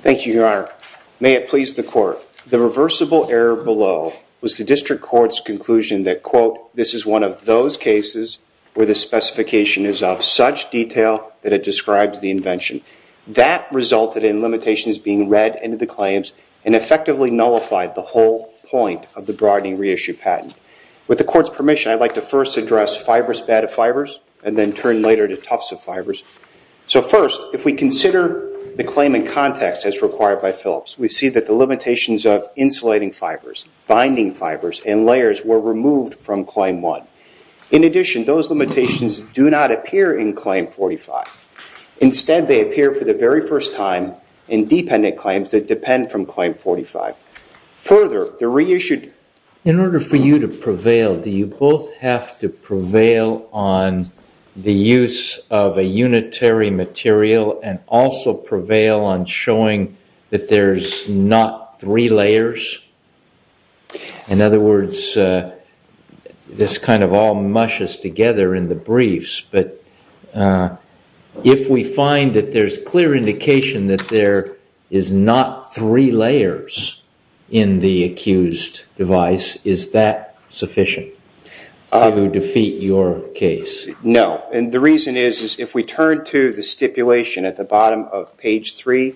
Thank you, Your Honor. May it please the Court. The reversible error below was the District Court's conclusion that, quote, this is one of those cases where the specification is of such detail that it describes the invention. That resulted in limitations being read into the claims and effectively nullified the whole point of the broadening reissue patent. With the Court's permission, I'd like to first address fibrous bed of fibers and then turn later to tufts of fibers. So first, if we consider the claim in context as required by Phillips, we see that the limitations of insulating fibers, binding fibers, and layers were removed from Claim 1. In addition, those limitations do not appear in Claim 45. Instead, they appear for the very first time in dependent claims that depend from Claim 45. Further, the reissued... In order for you to prevail, do you both have to prevail on the use of a unitary material and also prevail on showing that there's not three layers? In other words, this kind of all mushes together in the briefs, but if we find that there's clear indication that there is not three layers in the accused device, is that sufficient to defeat your case? No. And the reason is, is if we turn to the stipulation at the bottom of page 3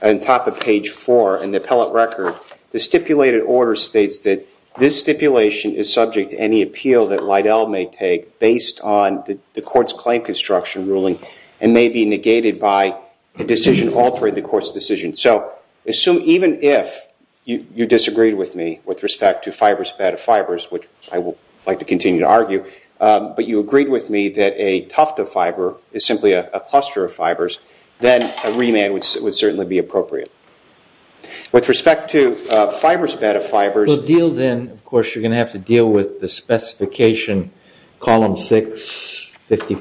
and top of page 4 in the appellate record, the stipulated order states that this stipulation is subject to any appeal that Lidell may take based on the Court's claim construction ruling and may be negated by a decision altering the Court's decision. So even if you disagreed with me with respect to fibrous bed of fibers, which I would like to continue to argue, but you agreed with me that a tuft of fiber is simply a cluster of fibers, then a remand would certainly be appropriate. With respect to fibrous bed of fibers... Then, of course, you're going to have to deal with the specification column 6, 50,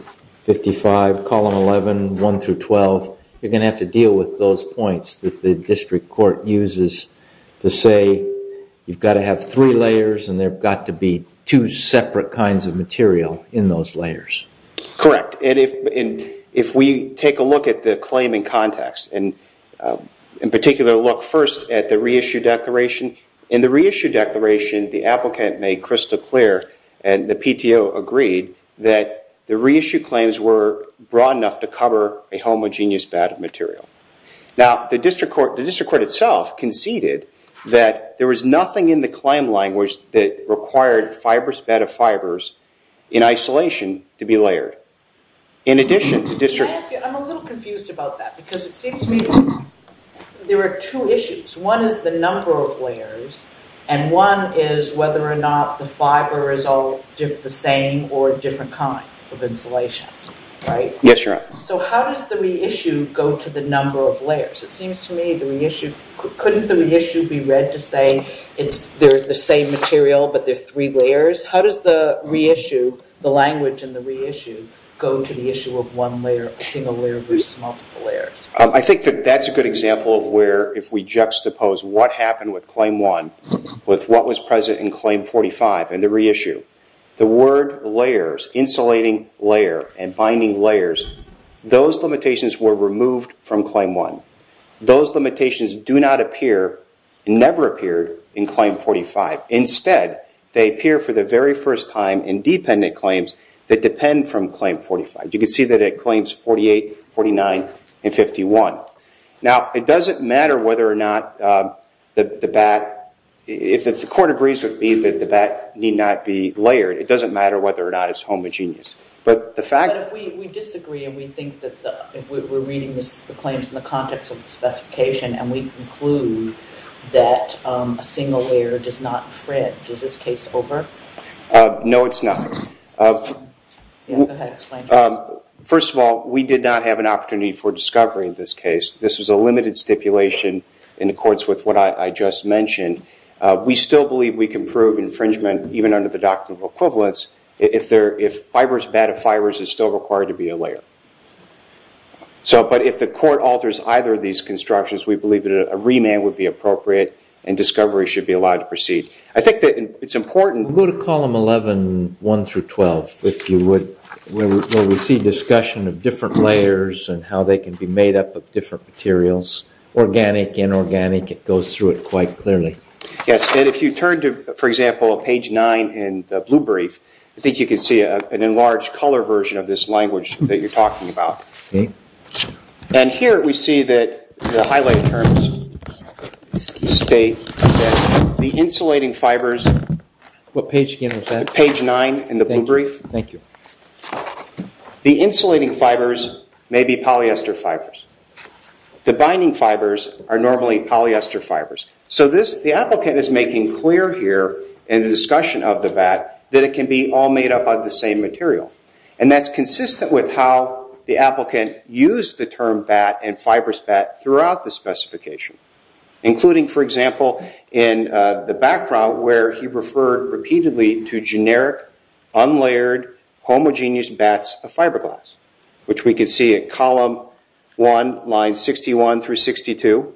55, column 11, 1 through 12. You're going to have to deal with those points that the district court uses to say you've got to have three layers and there've got to be two separate kinds of material in those layers. Correct. And if we take a look at the claim in context and in particular look first at the reissue declaration. In the reissue declaration, the applicant made crystal clear and the PTO agreed that the reissue claims were broad enough to cover a homogeneous bed of material. Now, the district court itself conceded that there was nothing in the claim language that required fibrous bed of fibers in isolation to be layered. In addition, the district... I'm a little confused about that because it seems to me there are two issues. One is the number of layers and one is whether or not the fiber is all the same or different kind of insulation, right? Yes, you're right. So how does the reissue go to the number of layers? It seems to me the reissue... Couldn't the reissue be read to say they're the same material, but they're three layers? How does the reissue, the language in the reissue, go to the issue of one layer, single layer versus multiple layers? I think that that's a good example of where if we juxtapose what happened with Claim 1 with what was present in Claim 45 in the reissue. The word layers, insulating layer and binding layers, those limitations were removed from Claim 1. Those limitations do not appear and never appeared in Claim 45. Instead, they appear for the very first time in dependent claims that depend from Claim 45. You can see that it claims 48, 49 and 51. Now, it doesn't matter whether or not the BAT... If the court agrees with me that the BAT need not be layered, it doesn't matter whether or not it's homogeneous. But the fact... But if we disagree and we think that we're reading the claims in the context of the specification and we conclude that a single layer does not fit, is this case over? No, it's not. First of all, we did not have an opportunity for discovery in this case. This was a limited stipulation in accordance with what I just mentioned. We still believe we can prove infringement even under the doctrine of equivalence if BAT of fibers is still required to be a layer. But if the court alters either of these constructions, we believe that a remand would be appropriate and discovery should be allowed to proceed. I think that it's important... Go to column 11, 1 through 12, if you would, where we see discussion of different layers and how they can be made up of different materials. Organic, inorganic, it goes through it quite clearly. Yes. And if you turn to, for example, page 9 in the blue brief, I think you can see an enlarged color version of this language that you're talking about. And here we see that the highlighted terms state that the insulating fibers... What page again was that? Page 9 in the blue brief. Thank you. The insulating fibers may be polyester fibers. The binding fibers are normally polyester fibers. So the applicant is making clear here in the discussion of the BAT that it can be made up of the same material. And that's consistent with how the applicant used the term BAT and fibrous BAT throughout the specification, including, for example, in the background where he referred repeatedly to generic, unlayered, homogeneous BATs of fiberglass, which we can see at column 1, line 61 through 62,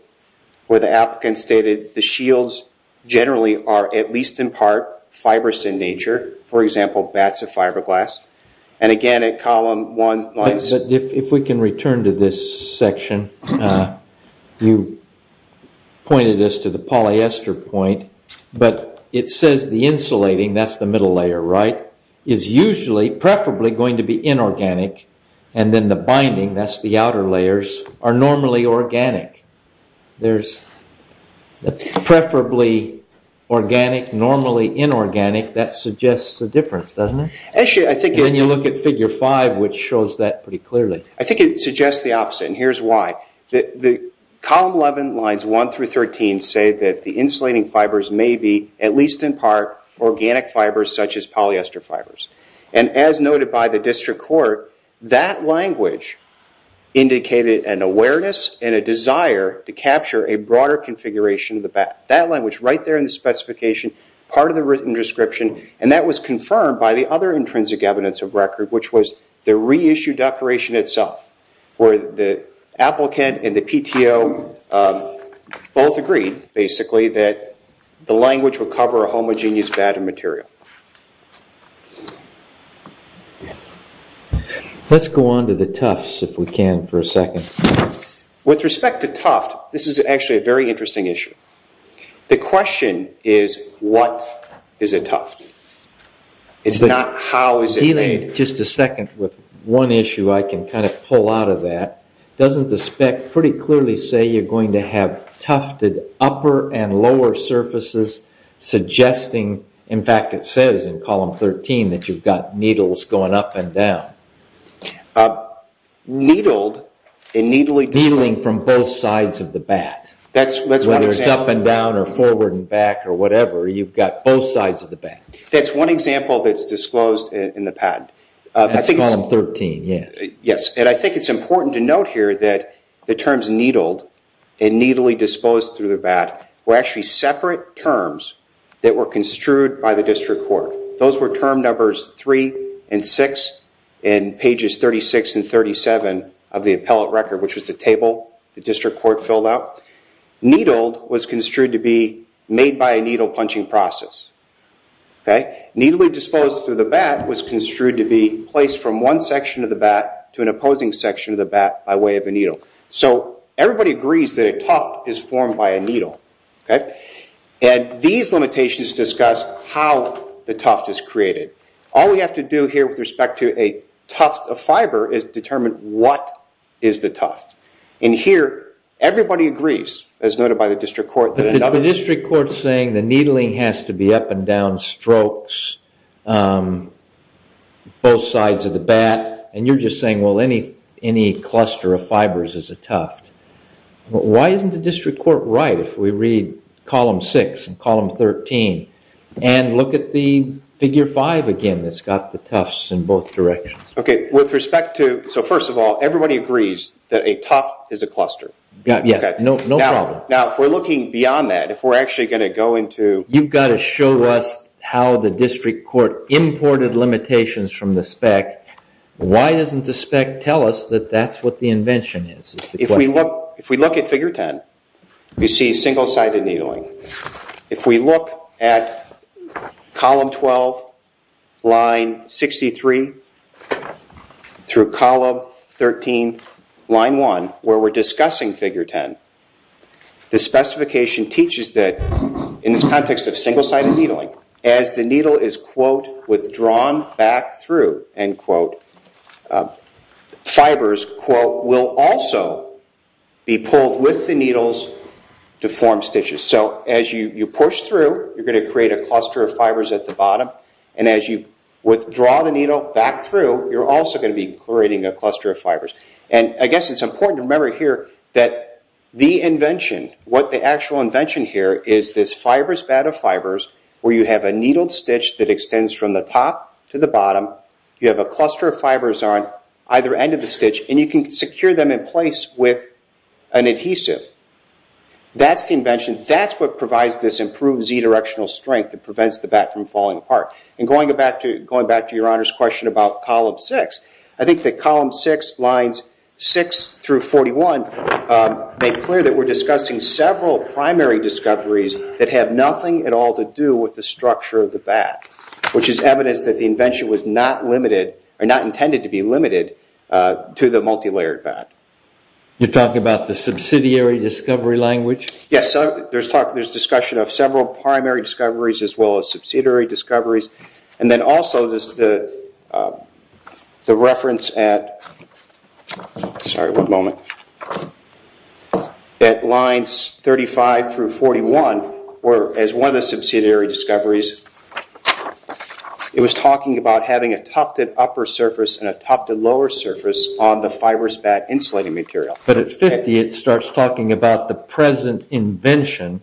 where the applicant stated the shields generally are at least in part fibrous in nature, for example, BATs of fiberglass. And again at column 1... But if we can return to this section, you pointed us to the polyester point, but it says the insulating, that's the middle layer, right, is usually, preferably, going to be inorganic. And then the binding, that's the organic, normally inorganic, that suggests a difference, doesn't it? And then you look at figure 5, which shows that pretty clearly. I think it suggests the opposite, and here's why. Column 11, lines 1 through 13, say that the insulating fibers may be at least in part organic fibers, such as polyester fibers. And as noted by the district court, that language indicated an awareness and a desire to capture a broader configuration of the BAT. That language right there in the specification, part of the written description, and that was confirmed by the other intrinsic evidence of record, which was the reissue declaration itself, where the applicant and the PTO both agreed, basically, that the language would cover a homogeneous BAT of material. Let's go on to the Tufts, if we can, for a second. With respect to Tufts, this is actually a very interesting issue. The question is, what is a Tuft? It's not, how is it made? Just a second, with one issue I can kind of pull out of that. Doesn't the spec pretty clearly say you're going to have Tufted upper and lower surfaces, suggesting, in fact it says in column 13, that you've got needles going up and down? Needled and needly. Needling from both sides of the BAT. That's one example. Whether it's up and down or forward and back or whatever, you've got both sides of the BAT. That's one example that's disclosed in the patent. That's column 13, yeah. Yes, and I think it's important to note here that the terms needled and needly disposed through the BAT were actually separate terms that were 3 and 6 in pages 36 and 37 of the appellate record, which was the table the district court filled out. Needled was construed to be made by a needle punching process. Needly disposed through the BAT was construed to be placed from one section of the BAT to an opposing section of the BAT by way of a needle. So everybody agrees that a Tuft is formed by a needle. Okay, and these limitations discuss how the Tuft is created. All we have to do here with respect to a Tuft of fiber is determine what is the Tuft. And here everybody agrees, as noted by the district court, that another... The district court's saying the needling has to be up and down strokes, both sides of the BAT, and you're just saying, well, any cluster of fibers is a Tuft. Why isn't the district court right if we read column 6 and column 13 and look at the figure 5 again that's got the Tufts in both directions? Okay, with respect to... So first of all, everybody agrees that a Tuft is a cluster. Yeah, no problem. Now, if we're looking beyond that, if we're actually going to go into... You've got to show us how the district court imported limitations from the spec. Why doesn't the spec tell us that that's what the invention is? If we look at figure 10, we see single-sided needling. If we look at column 12, line 63 through column 13, line 1, where we're discussing figure 10, the specification teaches that in this context of single-sided needling, as the needle is, quote, withdrawn back through, end be pulled with the needles to form stitches. So as you push through, you're going to create a cluster of fibers at the bottom, and as you withdraw the needle back through, you're also going to be creating a cluster of fibers. And I guess it's important to remember here that the invention, what the actual invention here is this fibrous BAT of fibers where you have a needled stitch that extends from the top to the bottom. You have a cluster of fibers on either end of the stitch, and you can secure them in place with an adhesive. That's the invention. That's what provides this improved Z-directional strength that prevents the BAT from falling apart. And going back to your Honor's question about column 6, I think that column 6, lines 6 through 41, make clear that we're discussing several primary discoveries that have nothing at all to do with the structure of the BAT, which is evidence that the invention was not limited, or not intended to be limited, to the multilayered BAT. You're talking about the subsidiary discovery language? Yes. There's discussion of several primary discoveries as well as subsidiary discoveries. And then also the reference at, sorry, one moment, at lines 35 through 41, as one of the subsidiary discoveries, it was talking about having a tufted upper surface and a tufted lower surface on the fibrous BAT insulating material. But at 50, it starts talking about the present invention,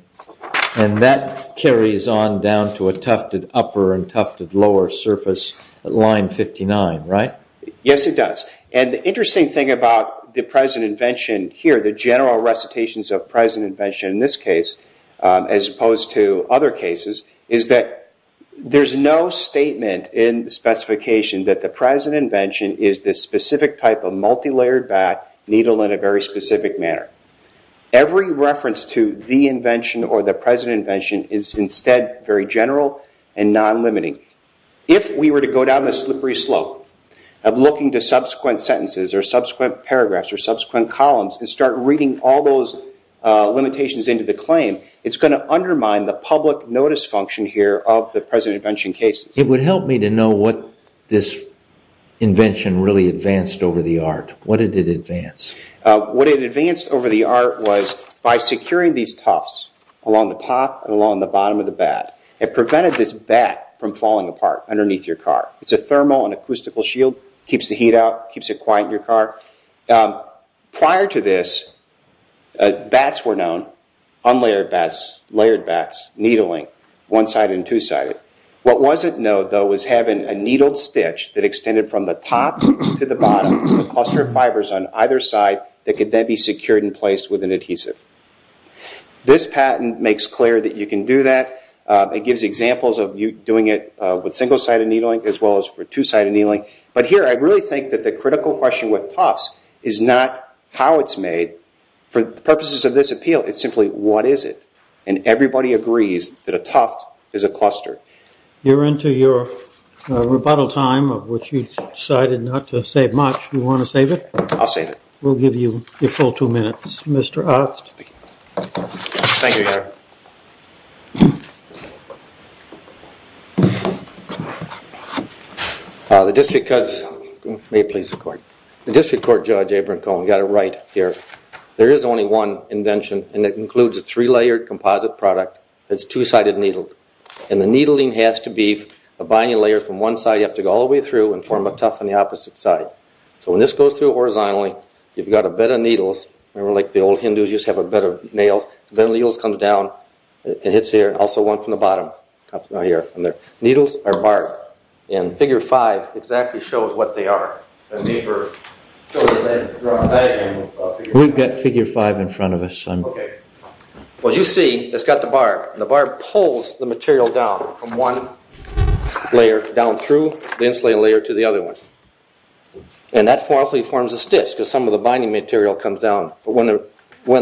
and that carries on down to a tufted upper and tufted lower surface at line 59, right? Yes, it does. And the interesting thing about the present invention here, the general recitations of present invention in this case, as opposed to other cases, is that there's no statement in the specification that the present invention is this specific type of multilayered BAT needle in a very specific manner. Every reference to the invention or the present invention is instead very general and non-limiting. If we were to go down this slippery slope of looking to subsequent sentences or subsequent paragraphs or subsequent columns and start reading all those limitations into the claim, it's going to undermine the public notice function here of the present invention cases. It would help me to know what this invention really advanced over the art. What did it advance? What it advanced over the art was by securing these tufts along the top and along the bottom of the BAT, it prevented this BAT from falling apart underneath your car. It's a thermal and acoustical shield, keeps the heat out, keeps it quiet in your car. Prior to this, BATs were known, unlayered BATs, layered BATs, needling, one-sided and two-sided. What wasn't known, though, was having a needled stitch that extended from the top to the bottom with a cluster of fibers on either side that could then be secured in place with an adhesive. This patent makes clear that you can do that. It gives examples of you doing it with single-sided needling as well as for two-sided needling. But here I really think that the critical question with tufts is not how it's made for the purposes of this appeal, it's simply what is it? And everybody agrees that a tuft is a cluster. You're into your rebuttal time of which you decided not to save much. You want to save it? I'll save it. We'll give you your full two minutes. Mr. Otts. Thank you, Gary. The district court judge, we've got it right here, there is only one invention and it includes a three-layered composite product that's two-sided needled. And the needling has to be a binding layer from one side, you have to go all the way through and form a tuft on the opposite side. So when this goes through horizontally, you've got a bed of needles, like the old Hindus used to have a bed of nails. Then the needles come down, it hits here, also one from the bottom. Needles are barbed. And figure 5 exactly shows what they are. We've got figure 5 in front of us. Okay. What you see, it's got the barb. The barb pulls the material down from one layer down through the insulating layer to the other one. And that forms a stitch because some of the binding material comes down. When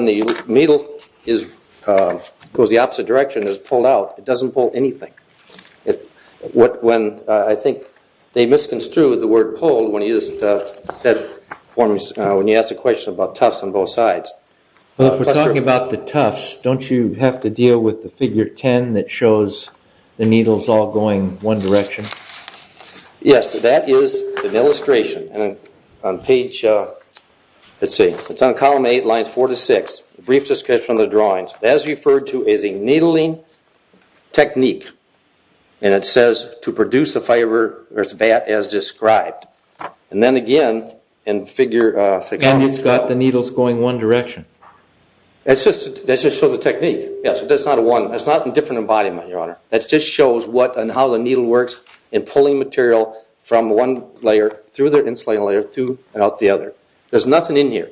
the needle goes the opposite direction, it's pulled out, it doesn't pull anything. I think they misconstrued the word pulled when he asked the question about tufts on both sides. If we are talking about the tufts, don't you have to deal with the figure 10 that column 8, lines 4 to 6, brief description of the drawings. That is referred to as a needling technique. And it says to produce the fiber as described. And then again, in figure 6. And it's got the needles going one direction. That just shows the technique. That's not a different embodiment, your honor. That just shows what and how the needle works in pulling material from one layer through the insulating layer to the other. There's nothing in here.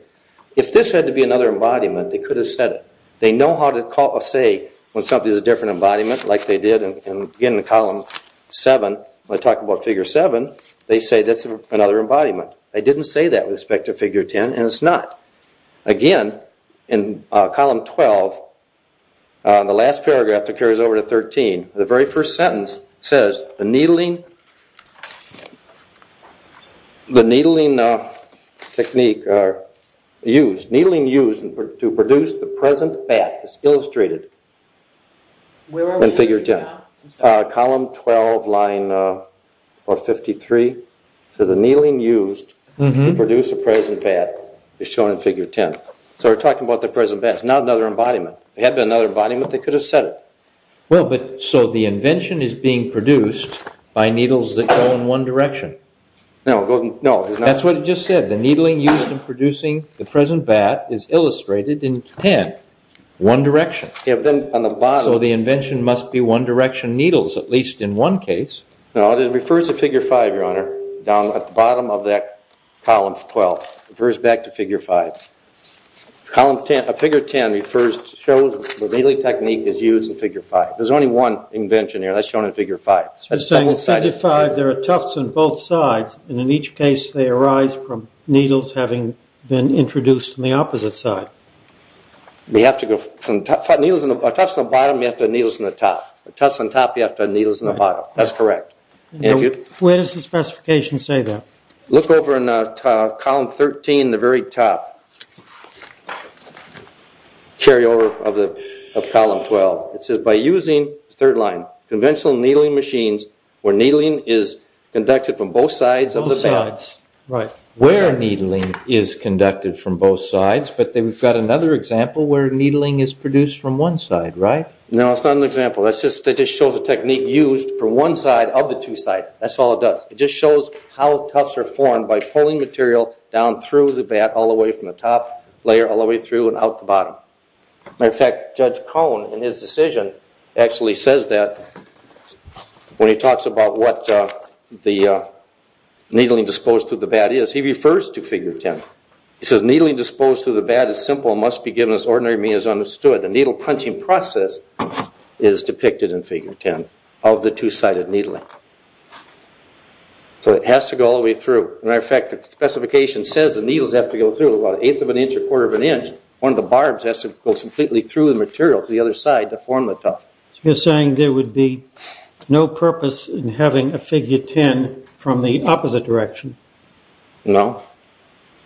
If this had to be another embodiment, they could have said it. They know how to say when something is a different embodiment like they did in the column 7, when I talk about figure 7, they say that's another embodiment. They didn't say that with respect to figure 10 and it's not. Again, in column 12, the last paragraph that carries over to 13, the very first sentence says the needling technique used, needling used to produce the present bat is illustrated in figure 10. Column 12, line 53, the needling used to produce the present bat is shown in figure 10. So we're talking about the present bat. It's not another embodiment. They could have said it. So the invention is being produced by needles that go in one direction. No. That's what it just said. The needling used in producing the present bat is illustrated in 10, one direction. So the invention must be one direction needles, at least in one case. No, it refers to figure 5, your honor, down at the bottom of that column 12. It refers to the needling technique is used in figure 5. There's only one invention here. That's shown in figure 5. You're saying in figure 5 there are tufts on both sides and in each case they arise from needles having been introduced on the opposite side. We have to go from tufts on the bottom, you have to have needles on the top. Tufts on top, you have to have needles on the bottom. That's correct. Where does the specification say that? Look over in column 13, the very top. Carry over of column 12. It says by using, third line, conventional needling machines where needling is conducted from both sides of the bat. Where needling is conducted from both sides, but then we've got another example where needling is produced from one side, right? No, it's not an example. That just shows the technique used from one side of the two side. That's all it does. It just shows how tufts are formed by pulling material down through the bat all the way from the top layer all the way through and out the bottom. Matter of fact, Judge Cone in his decision actually says that when he talks about what the needling disposed to the bat is. He refers to figure 10. He says needling disposed to the bat is simple and must be given as ordinary means understood. The needle punching process is depicted in figure 10 of the two-sided needling. So it has to go all the way through. Matter of fact, the specification says the needles have to go through about an eighth of an inch or quarter of an inch. One of the barbs has to go completely through the material to the other side to form the tuft. You're saying there would be no purpose in having a figure 10 from the opposite direction? No.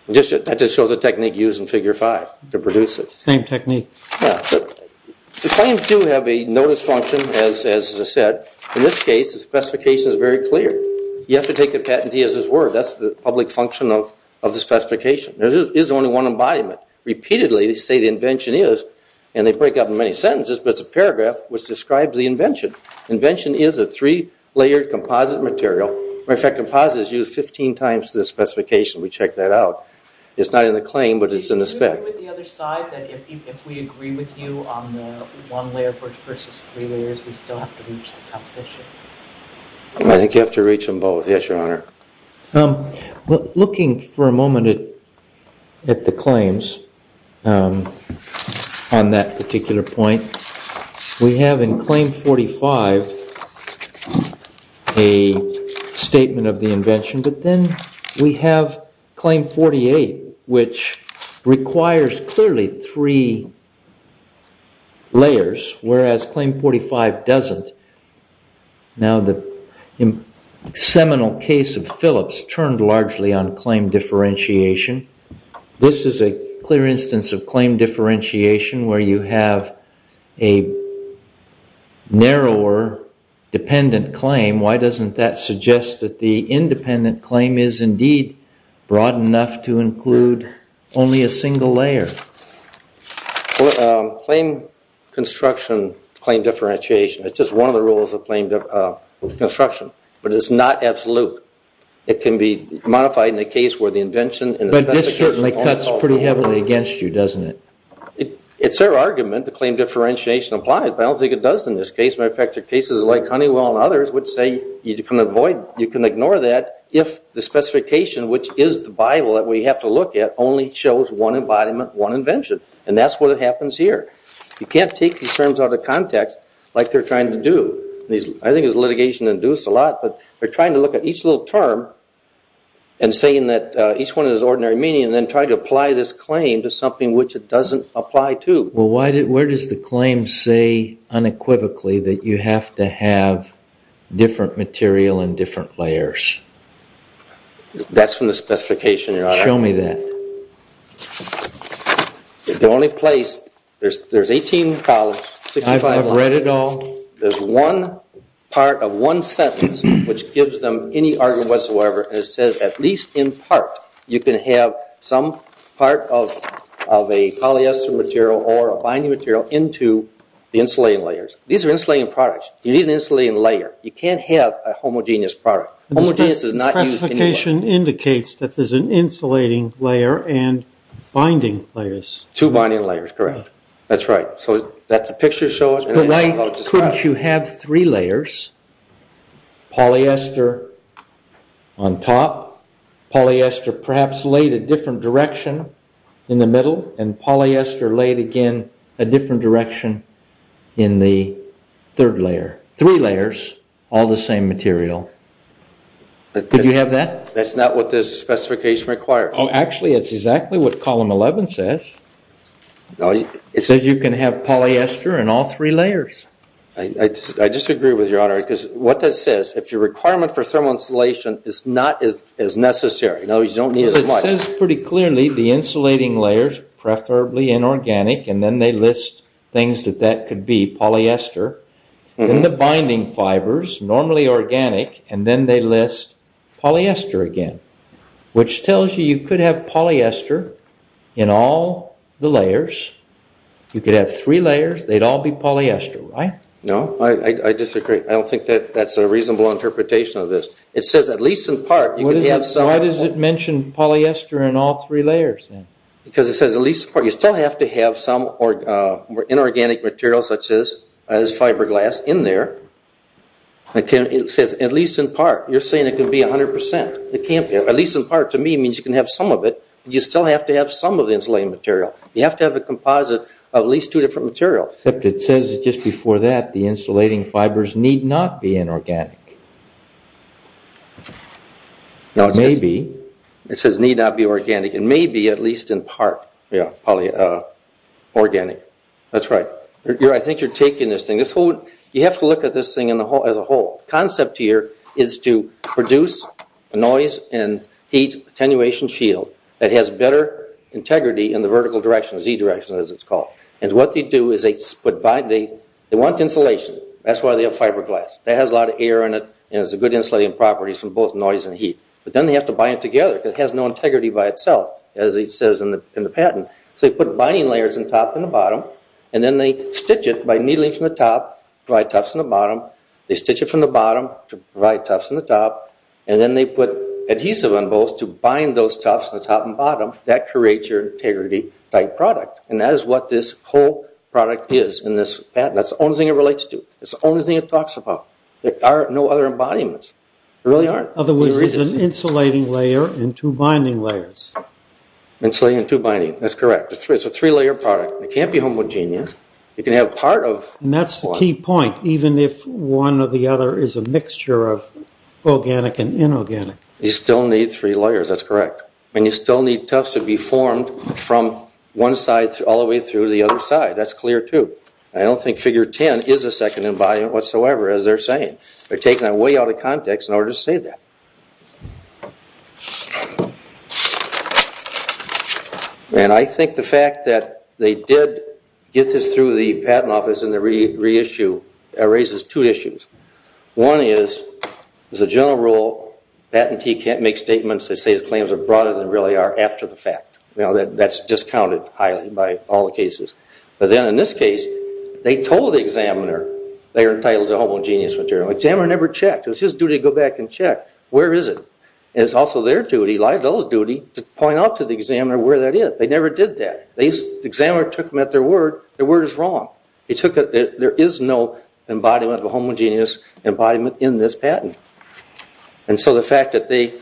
That just shows the technique used in figure 5 to produce it. Same technique. The claims do have a notice function, as I said. In this case, the specification is very clear. You have to take the patentee as his word. That's the public function of the specification. It's only one embodiment. Repeatedly, they say the invention is, and they break up in many sentences, but it's a paragraph which describes the invention. Invention is a three-layered composite material. Matter of fact, composite is used 15 times in the specification. We check that out. It's not in the claim, but it's in the spec. Do you agree with the other side that if we agree with you on the one-layer versus three-layers, we still have to reach the composition? I think you have to reach them both. Yes, Your Honor. I'm looking for a moment at the claims on that particular point. We have in Claim 45 a statement of the invention, but then we have Claim 48, which requires clearly three layers, whereas Claim 45 doesn't. Now, the seminal case of Phillips turned largely on claim differentiation. This is a clear instance of claim differentiation where you have a narrower dependent claim. Why doesn't that suggest that the independent claim is indeed broad enough to include only a single layer? Well, claim construction, claim differentiation, it's just one of the rules of claim construction, but it's not absolute. It can be modified in the case where the invention and the specification... But this certainly cuts pretty heavily against you, doesn't it? It's their argument. The claim differentiation applies, but I don't think it does in this case. Matter of fact, there are cases like Honeywell and others which say you can ignore that if the specification, which is the Bible that we have to look at, only shows one embodiment, one invention, and that's what happens here. You can't take these terms out of context like they're trying to do. I think it's litigation-induced a lot, but they're trying to look at each little term and saying that each one is ordinary meaning and then trying to apply this claim to something which it doesn't apply to. Well, where does the claim say unequivocally that you have to have different material and different layers? That's from the specification, Your Honor. Show me that. There's 18 columns, 65 lines. I've read it all. There's one part of one sentence which gives them any argument whatsoever and it says, at least in part, you can have some part of a polyester material or a binding material into the insulating layers. These are insulating products. You need an insulating layer. You can't have a homogeneous product. Homogeneous is not used anywhere. The specification indicates that there's an insulating layer and binding layers. Two binding layers, correct. That's right. So that's the picture shows- But why couldn't you have three layers? Polyester on top, polyester perhaps laid a different direction in the middle, and polyester laid again a different direction in the third layer. Three layers, all the same material. Did you have that? That's not what this specification requires. Oh, actually, that's exactly what column 11 says. It says you can have polyester in all three layers. I disagree with you, Your Honor, because what that says, if your requirement for thermal insulation is not as necessary, in other words, you don't need as much- It says pretty clearly the insulating layers, preferably inorganic, and then they list things that that could be, polyester, then the binding fibers, normally organic, and then they list polyester again, which tells you you could have polyester in all the layers. You could have three layers. They'd all be polyester, right? No, I disagree. I don't think that's a reasonable interpretation of this. It says at least in part, you could have some- Why does it mention polyester in all three layers then? Because it says at least in part, you still have to have some inorganic material such as fiberglass in there. It says at least in part. You're saying it could be 100%. It can't be. At least in part, to me, means you can have some of it. You still have to have some of the insulating material. You have to have a composite of at least two different materials. Except it says just before that the insulating fibers need not be inorganic. Now, maybe- It says need not be organic, and maybe, at least in part, polyorganic. That's right. I think you're taking this thing- You have to look at this thing as a whole. The concept here is to produce a noise and heat attenuation shield that has better integrity in the vertical direction, Z direction as it's called. What they do is they want insulation. That's why they have fiberglass. That has a lot of air in it, and it has good insulating properties from both noise and heat. But then they have to bind it together because it has no integrity by itself. As it says in the patent, they put binding layers in the top and the bottom, and then they stitch it by needling from the top to provide tufts in the bottom. They stitch it from the bottom to provide tufts in the top, and then they put adhesive on both to bind those tufts in the top and bottom. That creates your integrity-type product. That is what this whole product is in this patent. That's the only thing it relates to. It's the only thing it talks about. There are no other embodiments. There really aren't. There is an insulating layer and two binding layers. Insulating and two binding. That's correct. It's a three-layer product. It can't be homogeneous. You can have part of one. That's the key point, even if one or the other is a mixture of organic and inorganic. You still need three layers. That's correct. You still need tufts to be formed from one side all the way through to the other side. That's clear, too. I don't think figure 10 is a second embodiment whatsoever, as they're saying. They're taking that way out of context in the patent. I think the fact that they did get this through the patent office and the reissue raises two issues. One is, as a general rule, a patentee can't make statements that say his claims are broader than they really are after the fact. That's discounted highly by all the cases. But then in this case, they told the examiner they were entitled to homogeneous material. Examiner never checked. It was his duty to go back and check. Where is it? It's also their duty, like those duties, to point out to the examiner where that is. They never did that. Examiner took them at their word. Their word is wrong. There is no embodiment of a homogeneous embodiment in this patent. And so the fact that they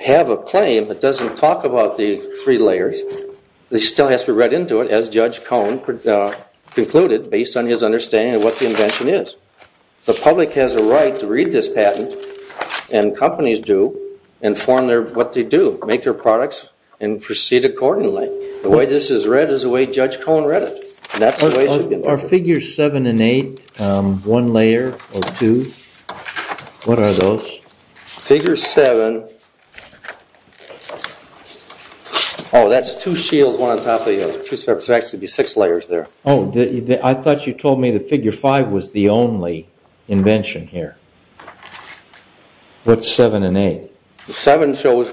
have a claim that doesn't talk about the three layers, it still has to be read into it, as Judge Cohen concluded, based on his understanding of what invention is. The public has a right to read this patent and companies do and form what they do, make their products and proceed accordingly. The way this is read is the way Judge Cohen read it. Are figures 7 and 8 one layer or two? What are those? Figure 7. Oh, that's two shields, one on top of the other. There's actually six layers there. Oh, I thought you told me that figure 5 was the only invention here. What's 7 and 8? The 7 shows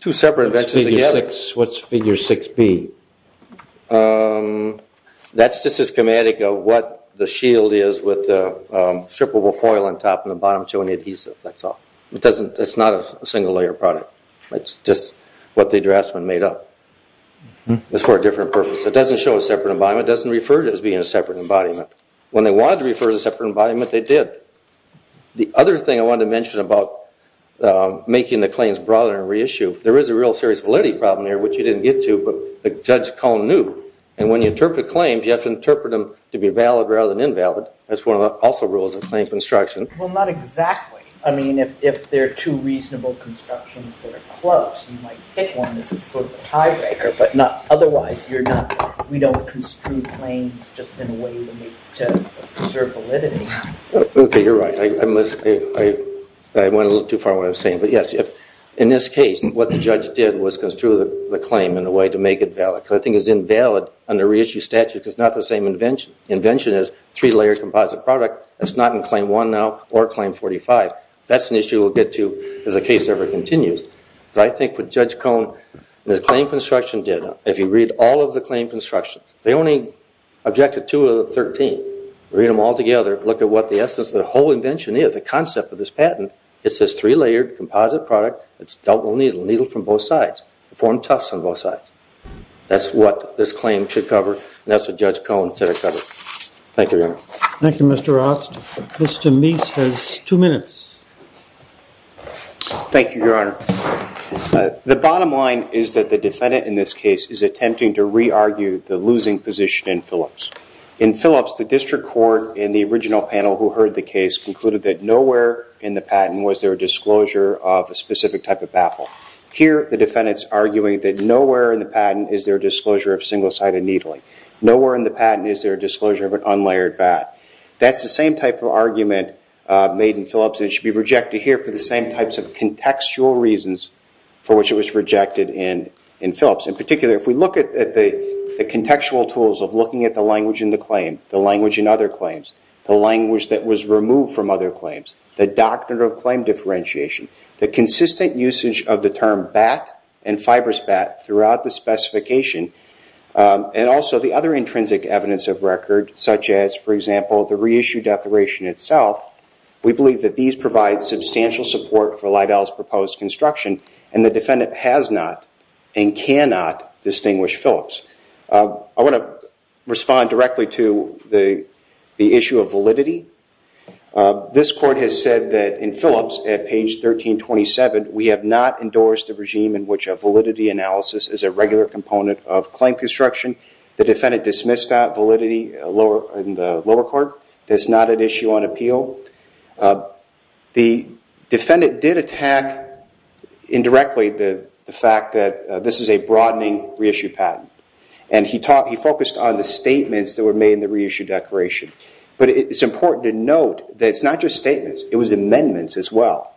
two separate inventions together. What's figure 6B? That's just a schematic of what the shield is with the strippable foil on top and the bottom showing the adhesive. That's all. It's not a single layer product. It's just what the draftsman made up. It's for a different purpose. It doesn't show a separate embodiment. It doesn't refer to it as being a separate embodiment. When they wanted to refer to a separate embodiment, they did. The other thing I wanted to mention about making the claims broader and reissue, there is a real serious validity problem here, which you didn't get to, but Judge Cohen knew. And when you interpret claims, you have to interpret them to be valid rather than invalid. That's one of the also rules of claim construction. Well, not exactly. I mean, if they're two reasonable constructions that are close, you might pick one as some sort of a tiebreaker. But otherwise, we don't construe claims just in a way to preserve validity. Okay, you're right. I went a little too far with what I was saying. But yes, in this case, what the judge did was construe the claim in a way to make it valid. I think it's invalid under reissue statute because it's not the same invention. The invention is a three-layer composite product. It's not in claim 1 now or claim 45. That's an issue we'll get to as the case ever continues. But I think what Judge Cohen and his claim construction did, if you read all of the claim constructions, they only objected to 13. Read them all together, look at what the essence of the whole invention is, the concept of this patent. It's this three-layered composite product. It's double-needled, needle from both sides. Formed tufts on both sides. That's what this claim should cover. And that's what Judge Cohen said it covered. Thank you, Your Honor. Thank you, Mr. Rost. Mr. Meese has two minutes. Thank you, Your Honor. The bottom line is that the defendant in this case is attempting to re-argue the losing position in Phillips. In Phillips, the district court in the original panel who heard the case concluded that nowhere in the patent was there a disclosure of a specific type of baffle. Here, the defendant's arguing that nowhere in the patent is there a disclosure of single-sided needling. Nowhere in the patent is there a disclosure of an unlayered bat. That's the same type of argument made in Phillips and it should be rejected here for the same types of contextual reasons for which it was rejected in Phillips. In particular, if we look at the contextual tools of looking at the language in the claim, the language in other claims, the language that was removed from other claims, the doctrinal claim differentiation, the consistent usage of the term bat and fibrous bat throughout the specification, and also the other intrinsic evidence of record such as, for example, the reissue declaration itself, we believe that these provide substantial support for Lidell's proposed construction and the defendant has not and cannot distinguish Phillips. I want to respond directly to the issue of validity. This court has said that in Phillips at page 1327, we have not endorsed a validity analysis as a regular component of claim construction. The defendant dismissed that validity in the lower court. That's not an issue on appeal. The defendant did attack indirectly the fact that this is a broadening reissue patent and he focused on the statements that were made in the reissue declaration. But it's important to note that it's not just statements. It was amendments as well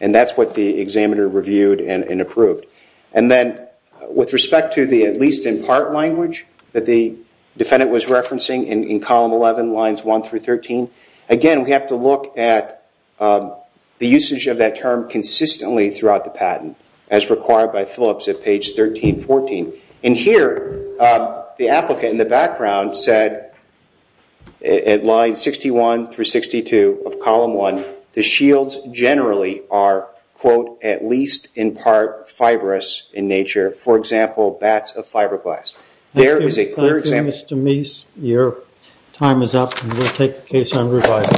and that's what the examiner reviewed and approved. And then with respect to the at least in part language that the defendant was referencing in column 11 lines 1 through 13, again we have to look at the usage of that term consistently throughout the patent as required by Phillips at page 1314. And here the applicant in the background said at line 61 through 62 of column 1, the shields generally are, quote, at least in part fibrous in nature. For example, bats of fiberglass. There is a clear example. Thank you, Mr. Meese. Your time is up and we'll take the case on revival.